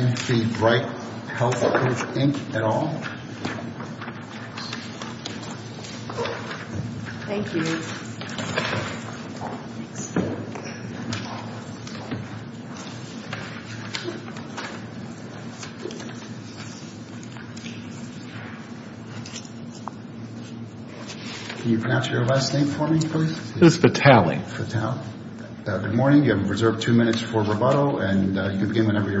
Can you pronounce your last name for me please? It is Fatale. Good morning, you have reserved two minutes for rebuttal and you can begin whenever you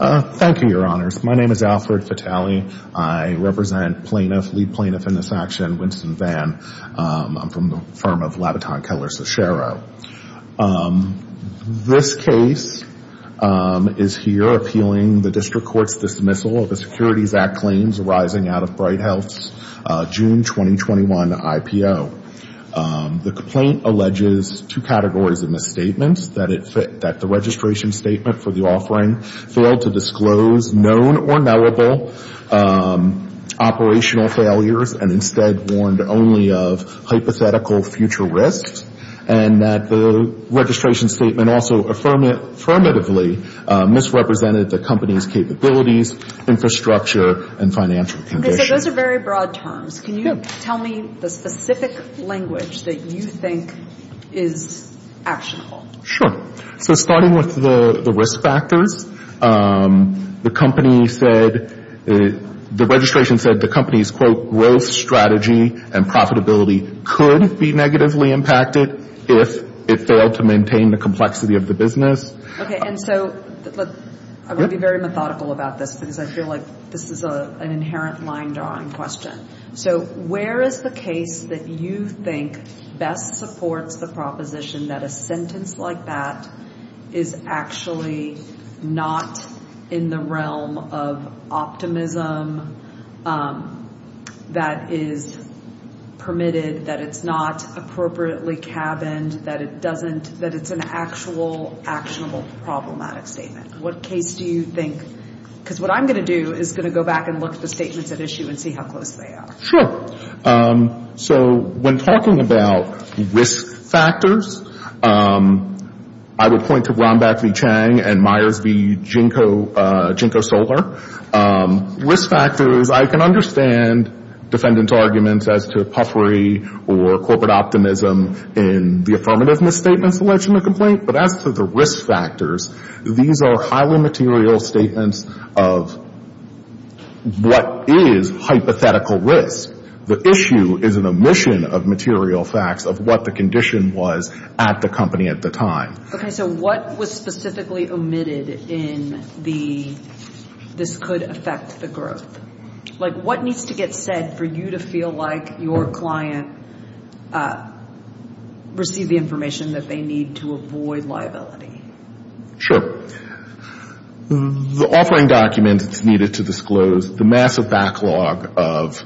Thank you, your honors. My name is Alfred Fatale. I represent plaintiff, lead plaintiff in this action, Winston Vann. I'm from the firm of Labaton Keller Cicero. This case is here appealing the district court's dismissal of the Securities Act claims arising out of Bright Health's June 2021 IPO. The complaint alleges two categories of misstatements, that the registration statement for the offering failed to disclose known or knowable operational failures and instead warned only of hypothetical future risks, and that the registration statement also affirmatively misrepresented the company's capabilities, infrastructure, and financial conditions. Okay, so those are very broad terms. Can you tell me the specific language that you think is actionable? Sure. So starting with the risk factors, the company said, the registration said the company's quote growth strategy and profitability could be negatively impacted if it failed to maintain the complexity of the business. Okay, and so I'm going to be very methodical about this because I feel like this is an inherent line drawing question. So where is the case that you think best supports the proposition that a sentence like that is actually not in the realm of optimism, that is permitted, that it's not appropriately cabined, that it doesn't, that it's an actual actionable problematic statement? What case do you think, because what I'm going to do is going to go back and look at the case at issue and see how close they are. Sure. So when talking about risk factors, I would point to Rhombach v. Chang and Myers v. Jinko Soler. Risk factors, I can understand defendant's arguments as to puffery or corporate optimism in the affirmative misstatement selection of complaint, but as to the risk factors, these are highly material statements of what is hypothetical risk. The issue is an omission of material facts of what the condition was at the company at the time. Okay, so what was specifically omitted in the this could affect the growth? Like what needs to get said for you to feel like your client received the information that they need to avoid liability? Sure. The offering documents needed to disclose the massive backlog of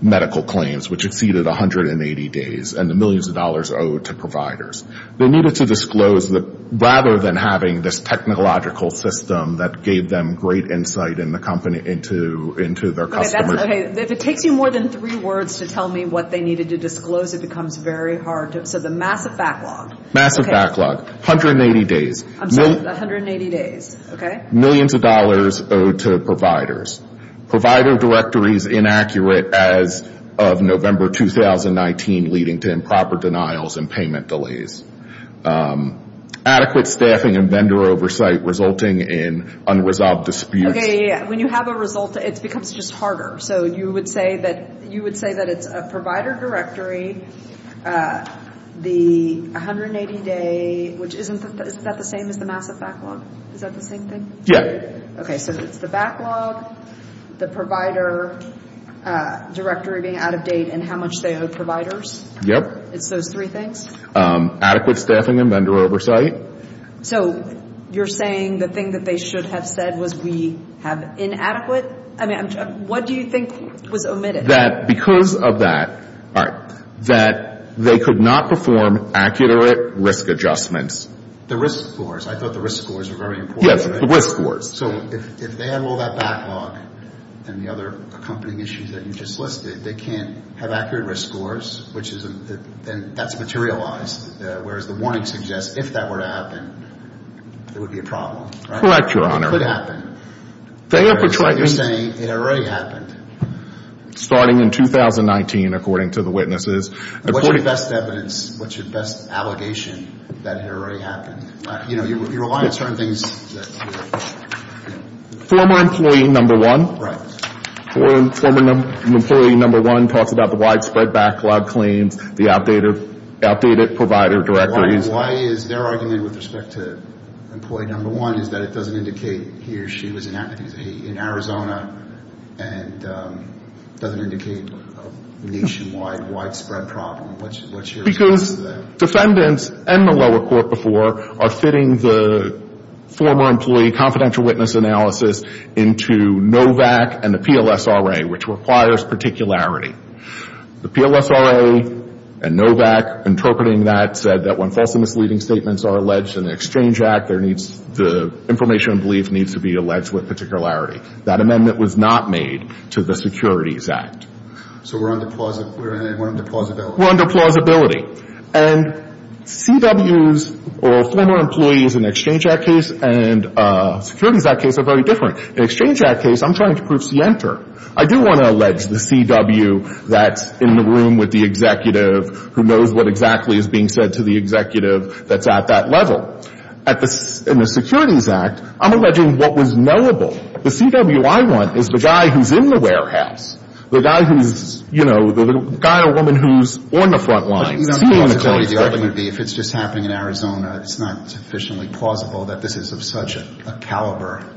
medical claims, which exceeded 180 days, and the millions of dollars owed to providers. They needed to disclose that rather than having this technological system that gave them great insight in the company into their customers. Okay, if it takes you more than three words to tell me what they needed to disclose, it becomes very hard. So the massive backlog. Massive backlog. 180 days. I'm sorry. 180 days. Okay. Millions of dollars owed to providers. Provider directories inaccurate as of November 2019, leading to improper denials and payment delays. Adequate staffing and vendor oversight resulting in unresolved disputes. Okay, when you have a result, it becomes just harder. So you would say that it's a provider directory, the 180 day, which isn't that the same as the massive backlog? Is that the same thing? Yeah. Okay, so it's the backlog, the provider directory being out of date, and how much they owe providers? Yep. It's those three things? Adequate staffing and vendor oversight. So you're saying the thing that they should have said was we have inadequate? I mean, what do you think was omitted? That because of that, that they could not perform accurate risk adjustments. The risk scores. I thought the risk scores were very important. Yes, the risk scores. So if they had all that backlog and the other accompanying issues that you just listed, they can't have accurate risk scores, which isn't, then that's materialized, whereas the warning suggests if that were to happen, it would be a problem. Correct, Your Honor. It could happen. You're saying it already happened. Starting in 2019, according to the witnesses. What's your best evidence, what's your best allegation that it already happened? You know, you rely on certain things that you have. Former employee number one. Right. Former employee number one talks about the widespread backlog claims, the outdated provider directories. Why is their argument with respect to employee number one is that it doesn't indicate he or she was in Arizona and doesn't indicate a nationwide widespread problem? Because defendants and the lower court before are fitting the former employee confidential witness analysis into NOVAC and the PLSRA, which requires particularity. The PLSRA and NOVAC interpreting that said that when false and misleading statements are alleged in the Exchange Act, there needs, the information and belief needs to be alleged with particularity. That amendment was not made to the Securities Act. So we're under plausibility. We're under plausibility. And CWs or former employees in the Exchange Act case and the Securities Act case are very different. In the Exchange Act case, I'm trying to prove scienter. I do want to allege the CW that's in the room with the executive who knows what exactly is being said to the executive that's at that level. At the, in the Securities Act, I'm alleging what was knowable. The CW I want is the guy who's in the warehouse, the guy who's, you know, the guy or woman who's on the front lines. But you don't have plausibility. The argument would be if it's just happening in Arizona, it's not sufficiently plausible that this is of such a caliber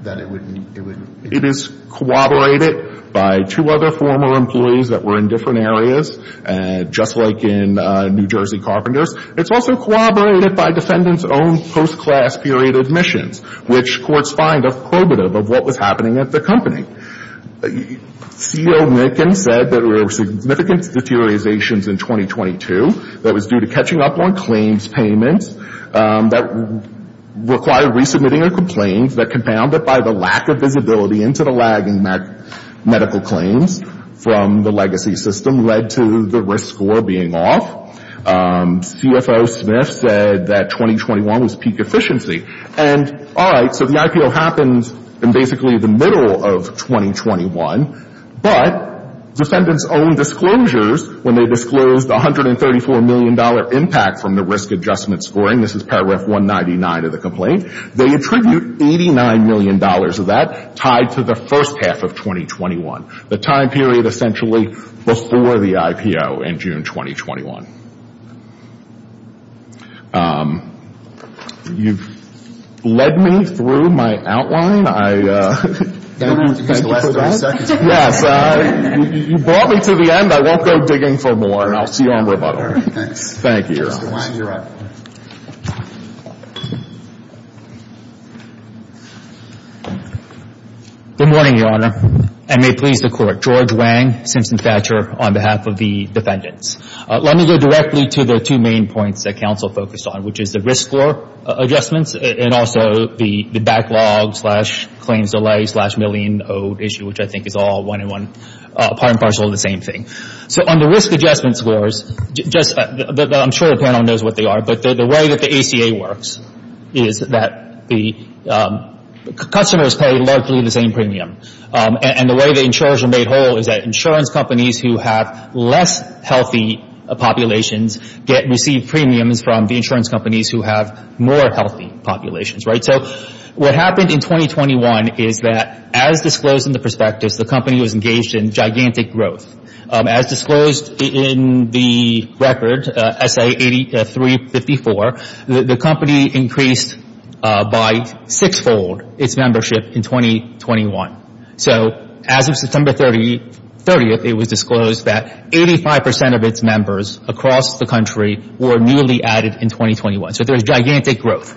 that it would, it would. It is corroborated by two other former employees that were in different areas, just like in New Jersey Carpenters. It's also corroborated by defendants' own post-class period admissions, which courts find a probative of what was happening at the company. C.O. Nickin said that there were significant deteriorations in 2022 that was due to catching up on claims payments that required resubmitting a complaint that compounded by the lack of visibility into the lagging medical claims from the legacy system led to the risk score being off. CFO Smith said that 2021 was peak efficiency. And all right, so the IPO happens in basically the middle of 2021, but defendants' own disclosures when they disclosed $134 million impact from the risk adjustment scoring. This is paragraph 199 of the complaint. They attribute $89 million of that tied to the first half of 2021, the time period essentially before the IPO in June 2021. You've led me through my outline. I don't have to go through that. You don't have to use the last 30 seconds. Yes. You brought me to the end. I won't go digging around. I won't go digging for more. I'll see you on rebuttal. Thanks. Thank you, Your Honor. Mr. Wang, you're up. Good morning, Your Honor, and may it please the Court, George Wang, Simpson Thatcher, on behalf of the defendants. Let me go directly to the two main points that counsel focused on, which is the risk score adjustments and also the backlog slash claims delay slash million issue, which I think is all one and one, part and parcel of the same thing. On the risk adjustment scores, I'm sure the panel knows what they are, but the way that the ACA works is that the customers pay largely the same premium, and the way the insurers are made whole is that insurance companies who have less healthy populations receive premiums from the insurance companies who have more healthy populations. What happened in 2021 is that, as disclosed in the perspectives, the company was engaged in gigantic growth. As disclosed in the record, S.A. 8354, the company increased by six-fold its membership in 2021. So as of September 30th, it was disclosed that 85 percent of its members across the country were newly added in 2021, so there's gigantic growth.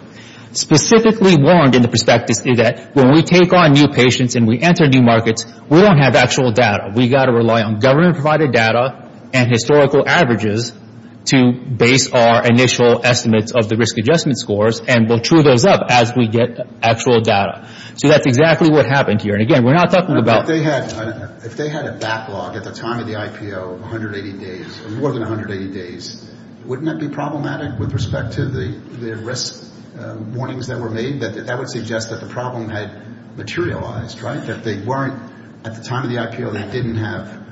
Specifically warned in the perspectives is that when we take on new patients and we enter new markets, we don't have actual data. We've got to rely on government-provided data and historical averages to base our initial estimates of the risk adjustment scores, and we'll true those up as we get actual data. So that's exactly what happened here, and again, we're not talking about... If they had a backlog at the time of the IPO, 180 days, more than 180 days, wouldn't that be problematic with respect to the risk warnings that were made? That would suggest that the problem had materialized, that they weren't... At the time of the IPO, they didn't have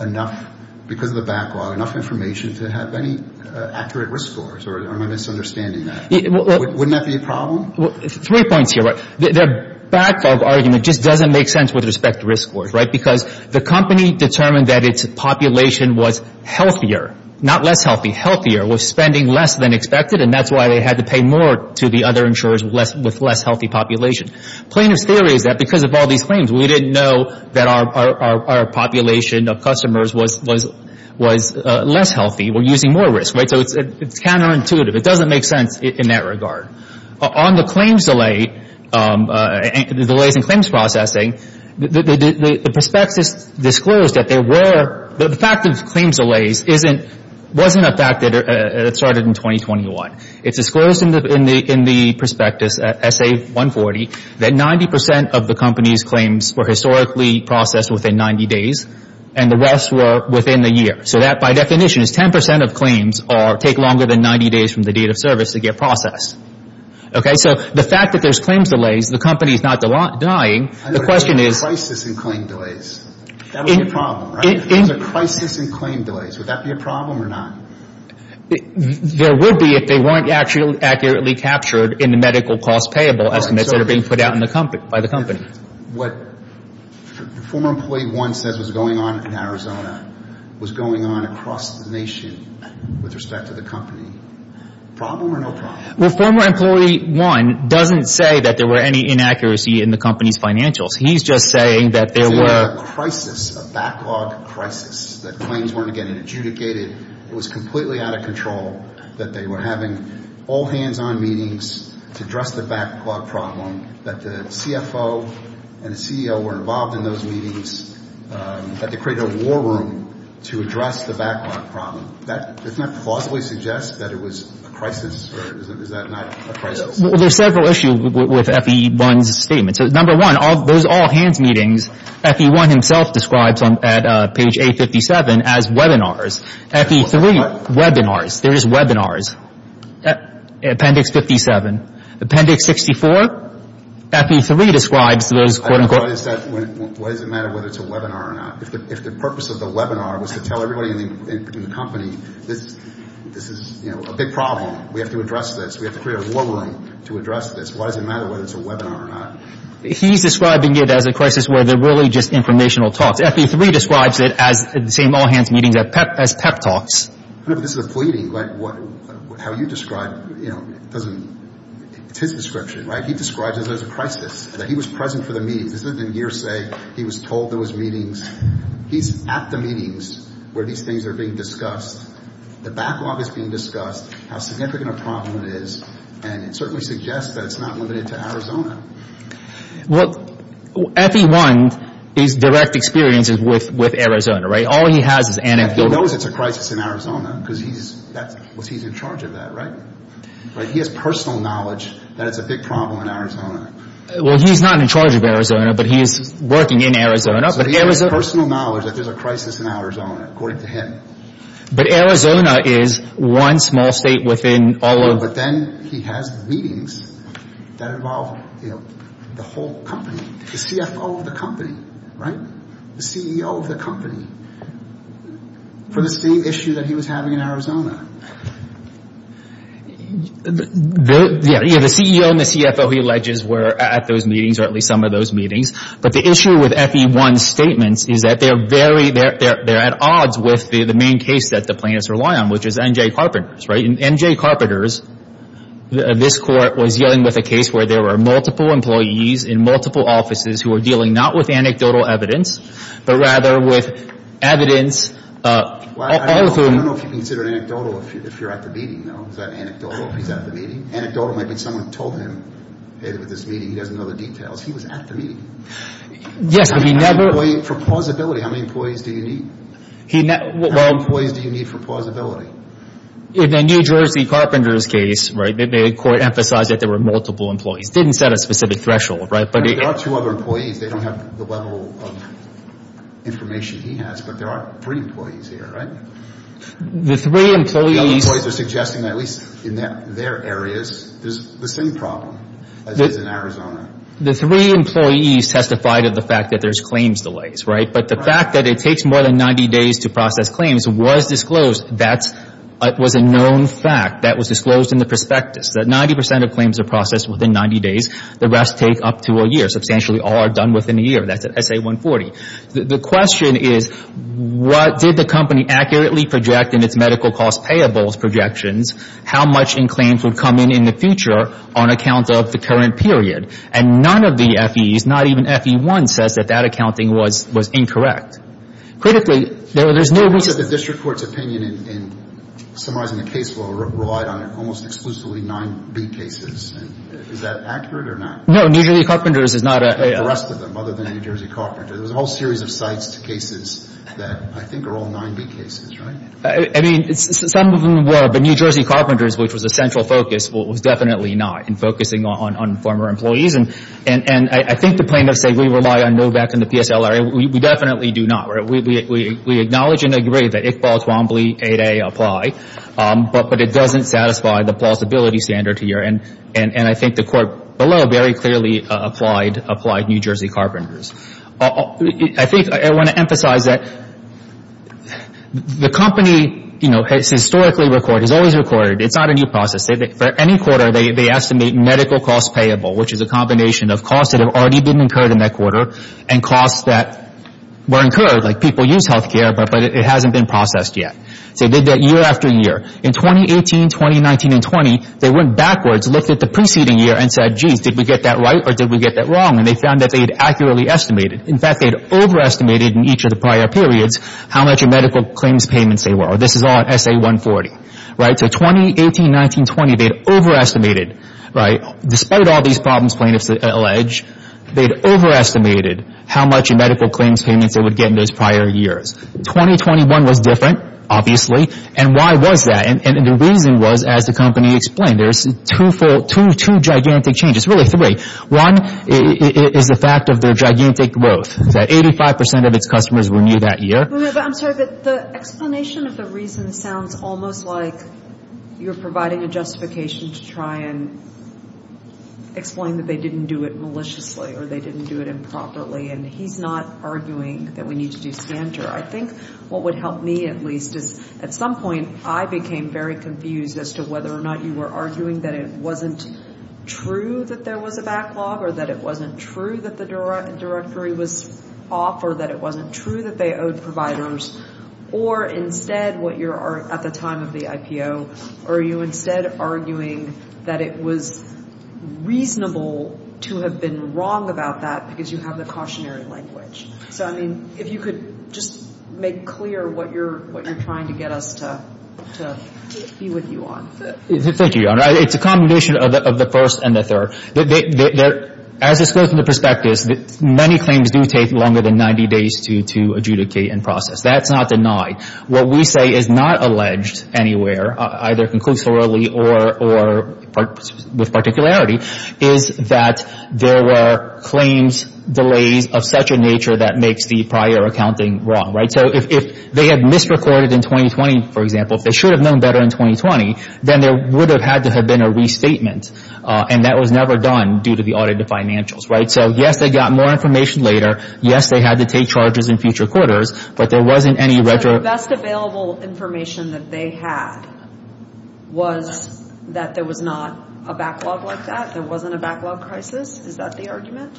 enough, because of the backlog, enough information to have any accurate risk scores, or am I misunderstanding that? Wouldn't that be a problem? Three points here. The back of argument just doesn't make sense with respect to risk scores, because the company determined that its population was healthier, not less healthy, healthier, was spending less than expected, and that's why they had to pay more to the other insurers with less healthy population. Plaintiff's theory is that because of all these claims, we didn't know that our population of customers was less healthy. We're using more risk, right? So it's counterintuitive. It doesn't make sense in that regard. On the claims delay, the delays in claims processing, the prospectus disclosed that the fact of claims delays wasn't a fact that it started in 2021. It's disclosed in the prospectus, SA 140, that 90% of the company's claims were historically processed within 90 days, and the rest were within the year. So that, by definition, is 10% of claims take longer than 90 days from the date of service to get processed. So the fact that there's claims delays, the company is not denying, the question is... If there's a crisis in claim delays, that would be a problem, right? If there's a crisis in claim delays, would that be a problem or not? There would be if they weren't accurately captured in the medical cost payable estimates that are being put out by the company. What former employee one says was going on in Arizona was going on across the nation with respect to the company. Problem or no problem? Well, former employee one doesn't say that there were any inaccuracy in the company's financials. He's just saying that there were... Is there a crisis, a backlog crisis, that claims weren't getting adjudicated, it was completely out of control, that they were having all hands-on meetings to address the backlog problem, that the CFO and the CEO were involved in those meetings, that they created a war room to address the backlog problem. That, doesn't that plausibly suggest that it was a crisis, or is that not a crisis? Well, there's several issues with FE1's statements. Number one, those all-hands meetings, FE1 himself describes at page A57 as webinars. FE3, webinars. There is webinars. Appendix 57. Appendix 64, FE3 describes those... I don't know what is that, what does it matter whether it's a webinar or not? If the purpose of the webinar was to tell everybody in the company, this is a big problem, we have to address this, we have to create a war room to address this, why does it matter whether it's a webinar or not? He's describing it as a crisis where they're really just informational talks. FE3 describes it as the same all-hands meetings as PEP talks. I don't know if this is a pleading, but how you describe, it's his description, right? He describes it as a crisis, that he was present for the meetings. This isn't a hearsay, he was told there was meetings. He's at the meetings where these things are being discussed. The backlog is being discussed, how significant a problem it is, and it certainly suggests that it's not limited to Arizona. Well, FE1 is direct experiences with Arizona, right? All he has is anecdotes. He knows it's a crisis in Arizona, because he's in charge of that, right? He has personal knowledge that it's a big problem in Arizona. Well, he's not in charge of Arizona, but he's working in Arizona. So he has personal knowledge that there's a crisis in Arizona, according to him. But Arizona is one small state within all of... But then he has meetings that involve the whole company, the CFO of the company, right? The CEO of the company, for the same issue that he was having in Arizona. Yeah, the CEO and the CFO he alleges were at those meetings, or at least some of those meetings. But the issue with FE1's statements is that they're at odds with the main case that the plaintiffs rely on, which is NJ Carpenters, right? NJ Carpenters, this court was dealing with a case where there were multiple employees in multiple offices who were dealing not with anecdotal evidence, but rather with evidence... I don't know if you consider it anecdotal if you're at the meeting, though. Is that anecdotal if he's at the meeting? Anecdotal might be someone told him, hey, with this meeting, he doesn't know the details. He was at the meeting. Yes, but he never... For plausibility, how many employees do you need? How many employees do you need for plausibility? In the NJ Carpenters case, the court emphasized that there were multiple employees. Didn't set a specific threshold, right? I mean, there are two other employees. They don't have the level of information he has, but there are three employees here, right? The three employees... The other employees are suggesting that at least in their areas, there's the same problem as is in Arizona. The three employees testified of the fact that there's claims delays, right? But the fact that it takes more than 90 days to process claims was disclosed. That was a known fact. That was disclosed in the prospectus, that 90% of claims are processed within 90 days. The rest take up to a year. Substantially, all are done within a year. That's at SA 140. The question is, what did the company accurately project in its medical cost payables projections? How much in claims would come in in the future on account of the current period? And none of the FEs, not even FE 1, says that that accounting was incorrect. Critically, there's no reason... Summarizing the case, we relied on almost exclusively 9B cases. Is that accurate or not? No, New Jersey Carpenters is not a... The rest of them, other than New Jersey Carpenters. There's a whole series of sites to cases that I think are all 9B cases, right? I mean, some of them were. But New Jersey Carpenters, which was a central focus, was definitely not in focusing on former employees. And I think the plaintiffs say we rely on Novak and the PSLRA. We definitely do not. We acknowledge and agree that Iqbal, Twombly, 8A apply, but it doesn't satisfy the plausibility standard here. And I think the court below very clearly applied New Jersey Carpenters. I think I want to emphasize that the company, you know, it's historically recorded. It's always recorded. It's not a new process. For any quarter, they estimate medical cost payable, which is a combination of costs that people use health care, but it hasn't been processed yet. So they did that year after year. In 2018, 2019, and 20, they went backwards, looked at the preceding year and said, geez, did we get that right or did we get that wrong? And they found that they had accurately estimated. In fact, they had overestimated in each of the prior periods how much of medical claims payments they were. This is all in SA 140, right? So 2018, 19, 20, they'd overestimated, right? Despite all these problems plaintiffs allege, they'd overestimated how much of medical claims payments they would get in those prior years. 2021 was different, obviously. And why was that? And the reason was, as the company explained, there's two gigantic changes, really three. One is the fact of their gigantic growth, that 85 percent of its customers were new that year. I'm sorry, but the explanation of the reason sounds almost like you're providing a justification to try and explain that they didn't do it maliciously or they didn't do it improperly. He's not arguing that we need to do standard. I think what would help me, at least, is at some point, I became very confused as to whether or not you were arguing that it wasn't true that there was a backlog or that it wasn't true that the directory was off or that it wasn't true that they owed providers. Or instead, what you're at the time of the IPO, are you instead arguing that it was reasonable to have been wrong about that because you have the cautionary language? So, I mean, if you could just make clear what you're trying to get us to be with you on. Thank you, Your Honor. It's a combination of the first and the third. As it's from the perspective, many claims do take longer than 90 days to adjudicate and process. That's not denied. What we say is not alleged anywhere, either conclusorily or with particularity, is that there were claims, delays of such a nature that makes the prior accounting wrong, right? So if they had misrecorded in 2020, for example, if they should have known better in 2020, then there would have had to have been a restatement. And that was never done due to the audit of financials, right? So, yes, they got more information later. Yes, they had to take charges in future quarters. But there wasn't any retro. The best available information that they had was that there was not a backlog like that. There wasn't a backlog crisis. Is that the argument?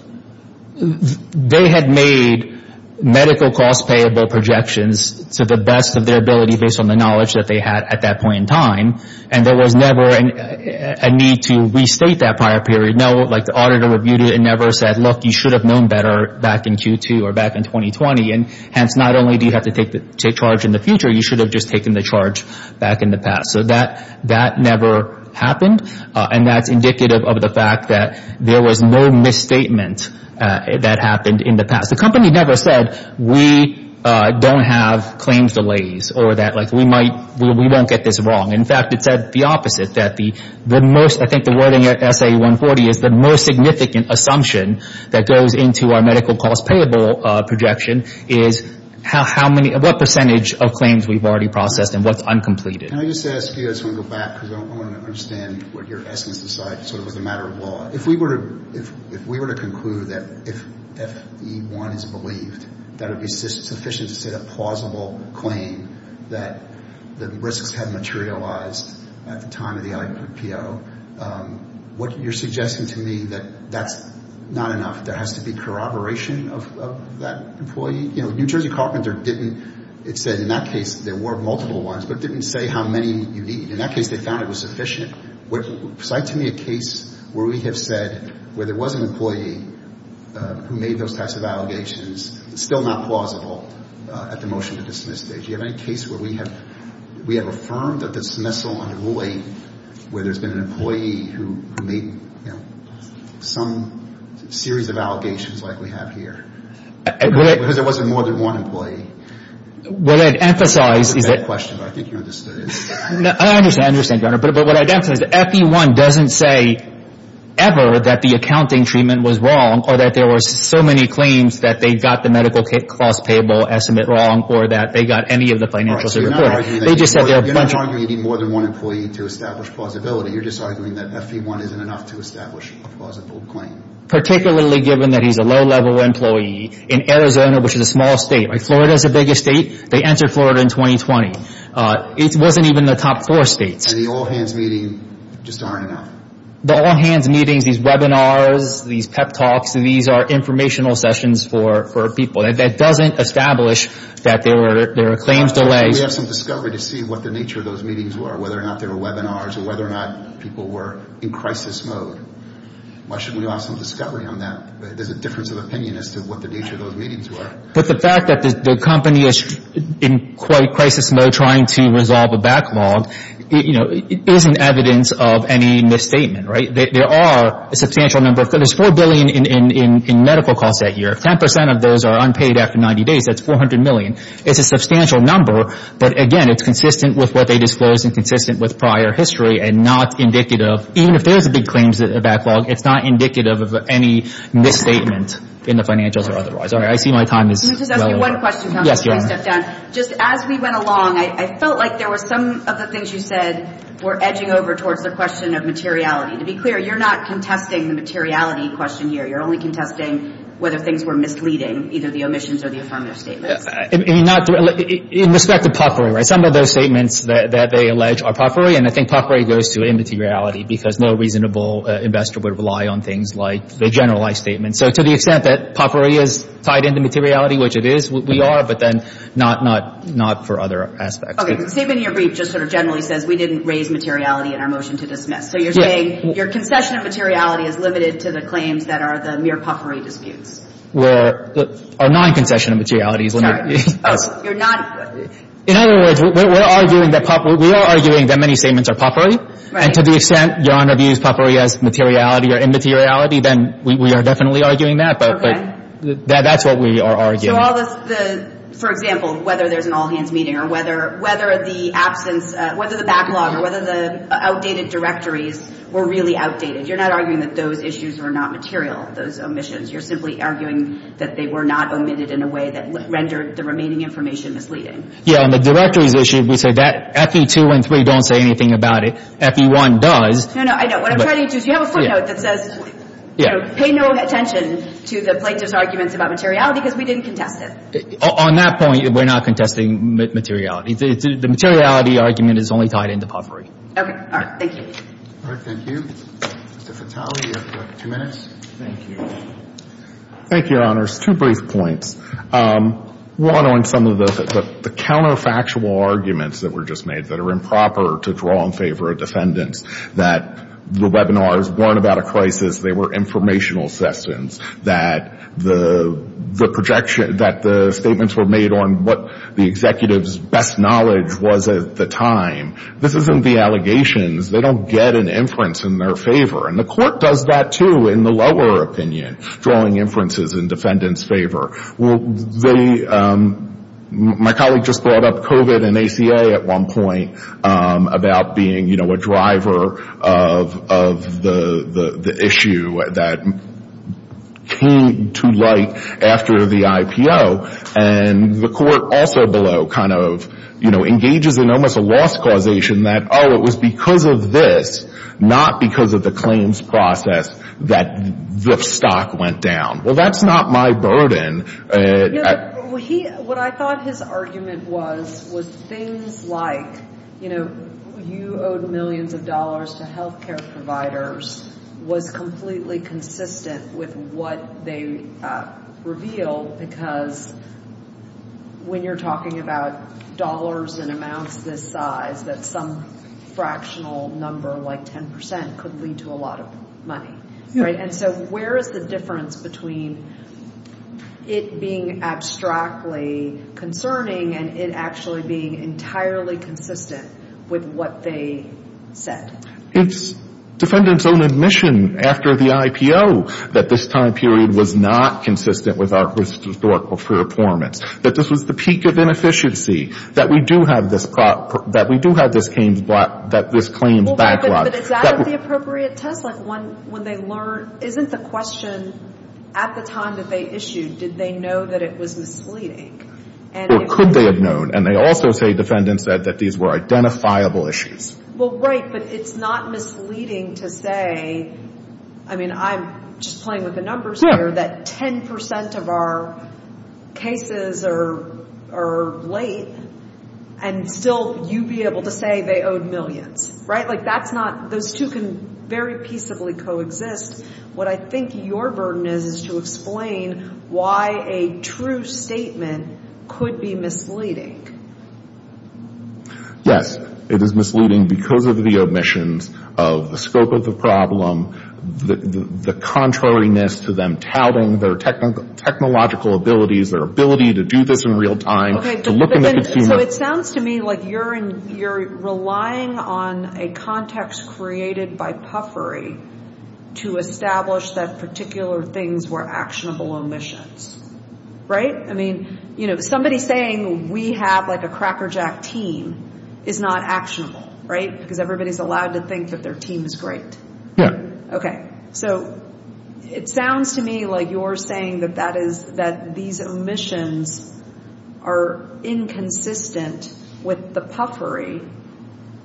They had made medical cost payable projections to the best of their ability based on the knowledge that they had at that point in time. And there was never a need to restate that prior period. No, like the auditor reviewed it and never said, look, you should have known better back in Q2 or back in 2020. Hence, not only do you have to take charge in the future, you should have just taken the charge back in the past. So that never happened. And that's indicative of the fact that there was no misstatement that happened in the past. The company never said, we don't have claims delays or that we might, we won't get this wrong. In fact, it said the opposite, that the most, I think the wording at SA-140 is the most significant assumption that goes into our medical cost payable projection is how many, what percentage of claims we've already processed and what's uncompleted. Can I just ask you, I just want to go back because I want to understand what your essence of the matter of law. If we were to conclude that if FE-1 is believed, that would be sufficient to set a plausible claim that the risks had materialized at the time of the IPO, what you're suggesting to me that that's not enough. There has to be corroboration of that employee. You know, New Jersey Carpenter didn't, it said in that case, there were multiple ones, but didn't say how many you need. In that case, they found it was sufficient. Would you cite to me a case where we have said, where there was an employee who made those types of allegations, still not plausible at the motion to dismiss stage. Do you have any case where we have, we have affirmed that dismissal under Rule 8, where there's been an employee who made, you know, some series of allegations like we have here. Because there wasn't more than one employee. What I'd emphasize is that... That's a bad question, but I think you understood it. No, I understand, I understand, Your Honor, but what I'd emphasize is that FE-1 doesn't say ever that the accounting treatment was wrong or that there were so many claims that they got the medical cost payable estimate wrong or that they got any of the financials they reported. Right, so you're not arguing that you need more than one employee to establish plausibility. You're just arguing that FE-1 isn't enough to establish a plausible claim. Particularly given that he's a low-level employee in Arizona, which is a small state. Florida's the biggest state. They entered Florida in 2020. It wasn't even the top four states. And the all-hands meeting just aren't enough. The all-hands meetings, these webinars, these pep talks, these are informational sessions for people. That doesn't establish that there were claims delayed. We have some discovery to see what the nature of those meetings were, whether or not they people were in crisis mode. Why shouldn't we have some discovery on that? There's a difference of opinion as to what the nature of those meetings were. But the fact that the company is in crisis mode trying to resolve a backlog isn't evidence of any misstatement, right? There are a substantial number. There's $4 billion in medical costs that year. 10% of those are unpaid after 90 days. That's $400 million. It's a substantial number. But again, it's consistent with what they disclosed and consistent with prior history and not indicative. Even if there's a big claims backlog, it's not indicative of any misstatement in the financials or otherwise. All right. I see my time is well over. Can I just ask you one question, Counselor? Yes, Your Honor. Just as we went along, I felt like there were some of the things you said were edging over towards the question of materiality. To be clear, you're not contesting the materiality question here. You're only contesting whether things were misleading, either the omissions or the affirmative statements. I mean, in respect to potpourri, right, some of those statements that they allege are potpourri. And I think potpourri goes to immateriality because no reasonable investor would rely on things like a generalized statement. So to the extent that potpourri is tied into materiality, which it is, we are, but then not for other aspects. Okay. The statement in your brief just sort of generally says we didn't raise materiality in our motion to dismiss. So you're saying your concession of materiality is limited to the claims that are the mere potpourri disputes? Well, our non-concession of materiality is limited. You're not — In other words, we're arguing that potpourri — we are arguing that many statements are potpourri. Right. And to the extent Your Honor views potpourri as materiality or immateriality, then we are definitely arguing that. Okay. But that's what we are arguing. So all the — for example, whether there's an all-hands meeting or whether the absence — whether the backlog or whether the outdated directories were really outdated, you're not arguing that those issues were not material, those omissions. You're simply arguing that they were not omitted in a way that rendered the remaining information misleading. Yeah. And the directories issue, we said that — FE2 and 3 don't say anything about it. FE1 does. No, no. I know. What I'm trying to get to is you have a footnote that says, you know, pay no attention to the plaintiff's arguments about materiality because we didn't contest it. On that point, we're not contesting materiality. The materiality argument is only tied into potpourri. Okay. All right. Thank you. All right. Thank you. Mr. Fatale, you have two minutes. Thank you. Thank you, Your Honors. Two brief points. One, on some of the counterfactual arguments that were just made that are improper to draw in favor of defendants, that the webinars weren't about a crisis, they were informational sessions, that the projection — that the statements were made on what the executive's best knowledge was at the time. This isn't the allegations. They don't get an inference in their favor. And the Court does that, too, in the lower opinion, drawing inferences in defendants' favor. Well, they — my colleague just brought up COVID and ACA at one point about being, you know, a driver of the issue that came to light after the IPO. And the Court also below kind of, you know, engages in almost a loss causation that, oh, it was because of this, not because of the claims process, that the stock went down. Well, that's not my burden. Yeah, but what he — what I thought his argument was, was things like, you know, you owed millions of dollars to healthcare providers was completely consistent with what they revealed, because when you're talking about dollars and amounts this size, that some fractional number like 10 percent could lead to a lot of money, right? And so where is the difference between it being abstractly concerning and it actually being entirely consistent with what they said? It's defendants' own admission after the IPO that this time period was not consistent with our historical performance, that this was the peak of inefficiency, that we do have this — that we do have this claims backlog. But is that the appropriate test? Like, when they learn — isn't the question at the time that they issued, did they know that it was misleading? Or could they have known? And they also say defendants said that these were identifiable issues. Well, right, but it's not misleading to say — I mean, I'm just playing with the numbers here — that 10 percent of our cases are late, and still you be able to say they owed millions, right? Like, that's not — those two can very peaceably coexist. What I think your burden is, is to explain why a true statement could be misleading. Yes, it is misleading because of the omissions of the scope of the problem, the contrariness to them touting their technological abilities, their ability to do this in real time, to look in the continuum — So it sounds to me like you're relying on a context created by puffery to establish that particular things were actionable omissions, right? I mean, you know, somebody saying we have, like, a crackerjack team is not actionable, right? Because everybody's allowed to think that their team is great. Okay, so it sounds to me like you're saying that these omissions are inconsistent with the puffery,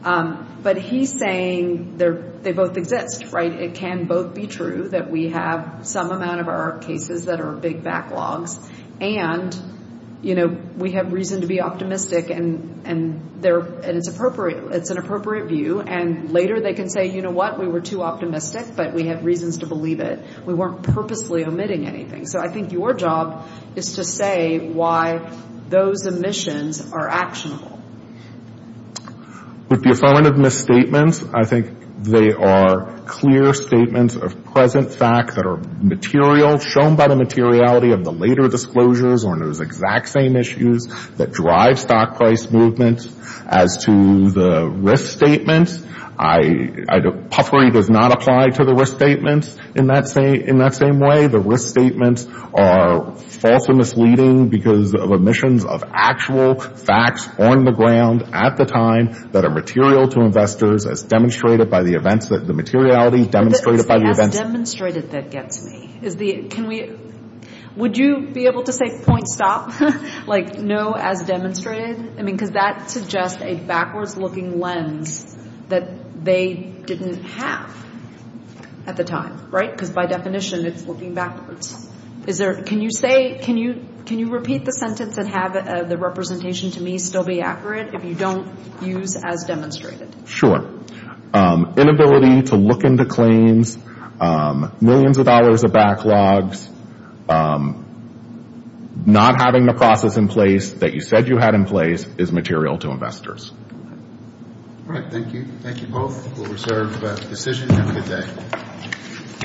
but he's saying they both exist, right? It can both be true that we have some amount of our cases that are big backlogs, and, you know, we have reason to be optimistic, and it's an appropriate view, and later they can say, you know what? We were too optimistic, but we have reasons to believe it. We weren't purposely omitting anything. So I think your job is to say why those omissions are actionable. With the affirmative misstatements, I think they are clear statements of present fact that are material, shown by the materiality of the later disclosures on those exact same issues that drive stock price movements. As to the risk statements, puffery does not apply to the risk statements in that same way. The risk statements are false and misleading because of omissions of actual facts on the ground at the time that are material to investors, as demonstrated by the events, the materiality demonstrated by the events. As demonstrated, that gets me. Would you be able to say point stop? Like, no, as demonstrated? I mean, because that suggests a backwards looking lens that they didn't have at the time, right? Because by definition, it's looking backwards. Is there, can you say, can you repeat the sentence and have the representation to me still be accurate if you don't use as demonstrated? Sure. Inability to look into claims, millions of dollars of backlogs, not having the process that you said you had in place is material to investors. All right. Thank you. Thank you both. We'll reserve the decision and have a good day.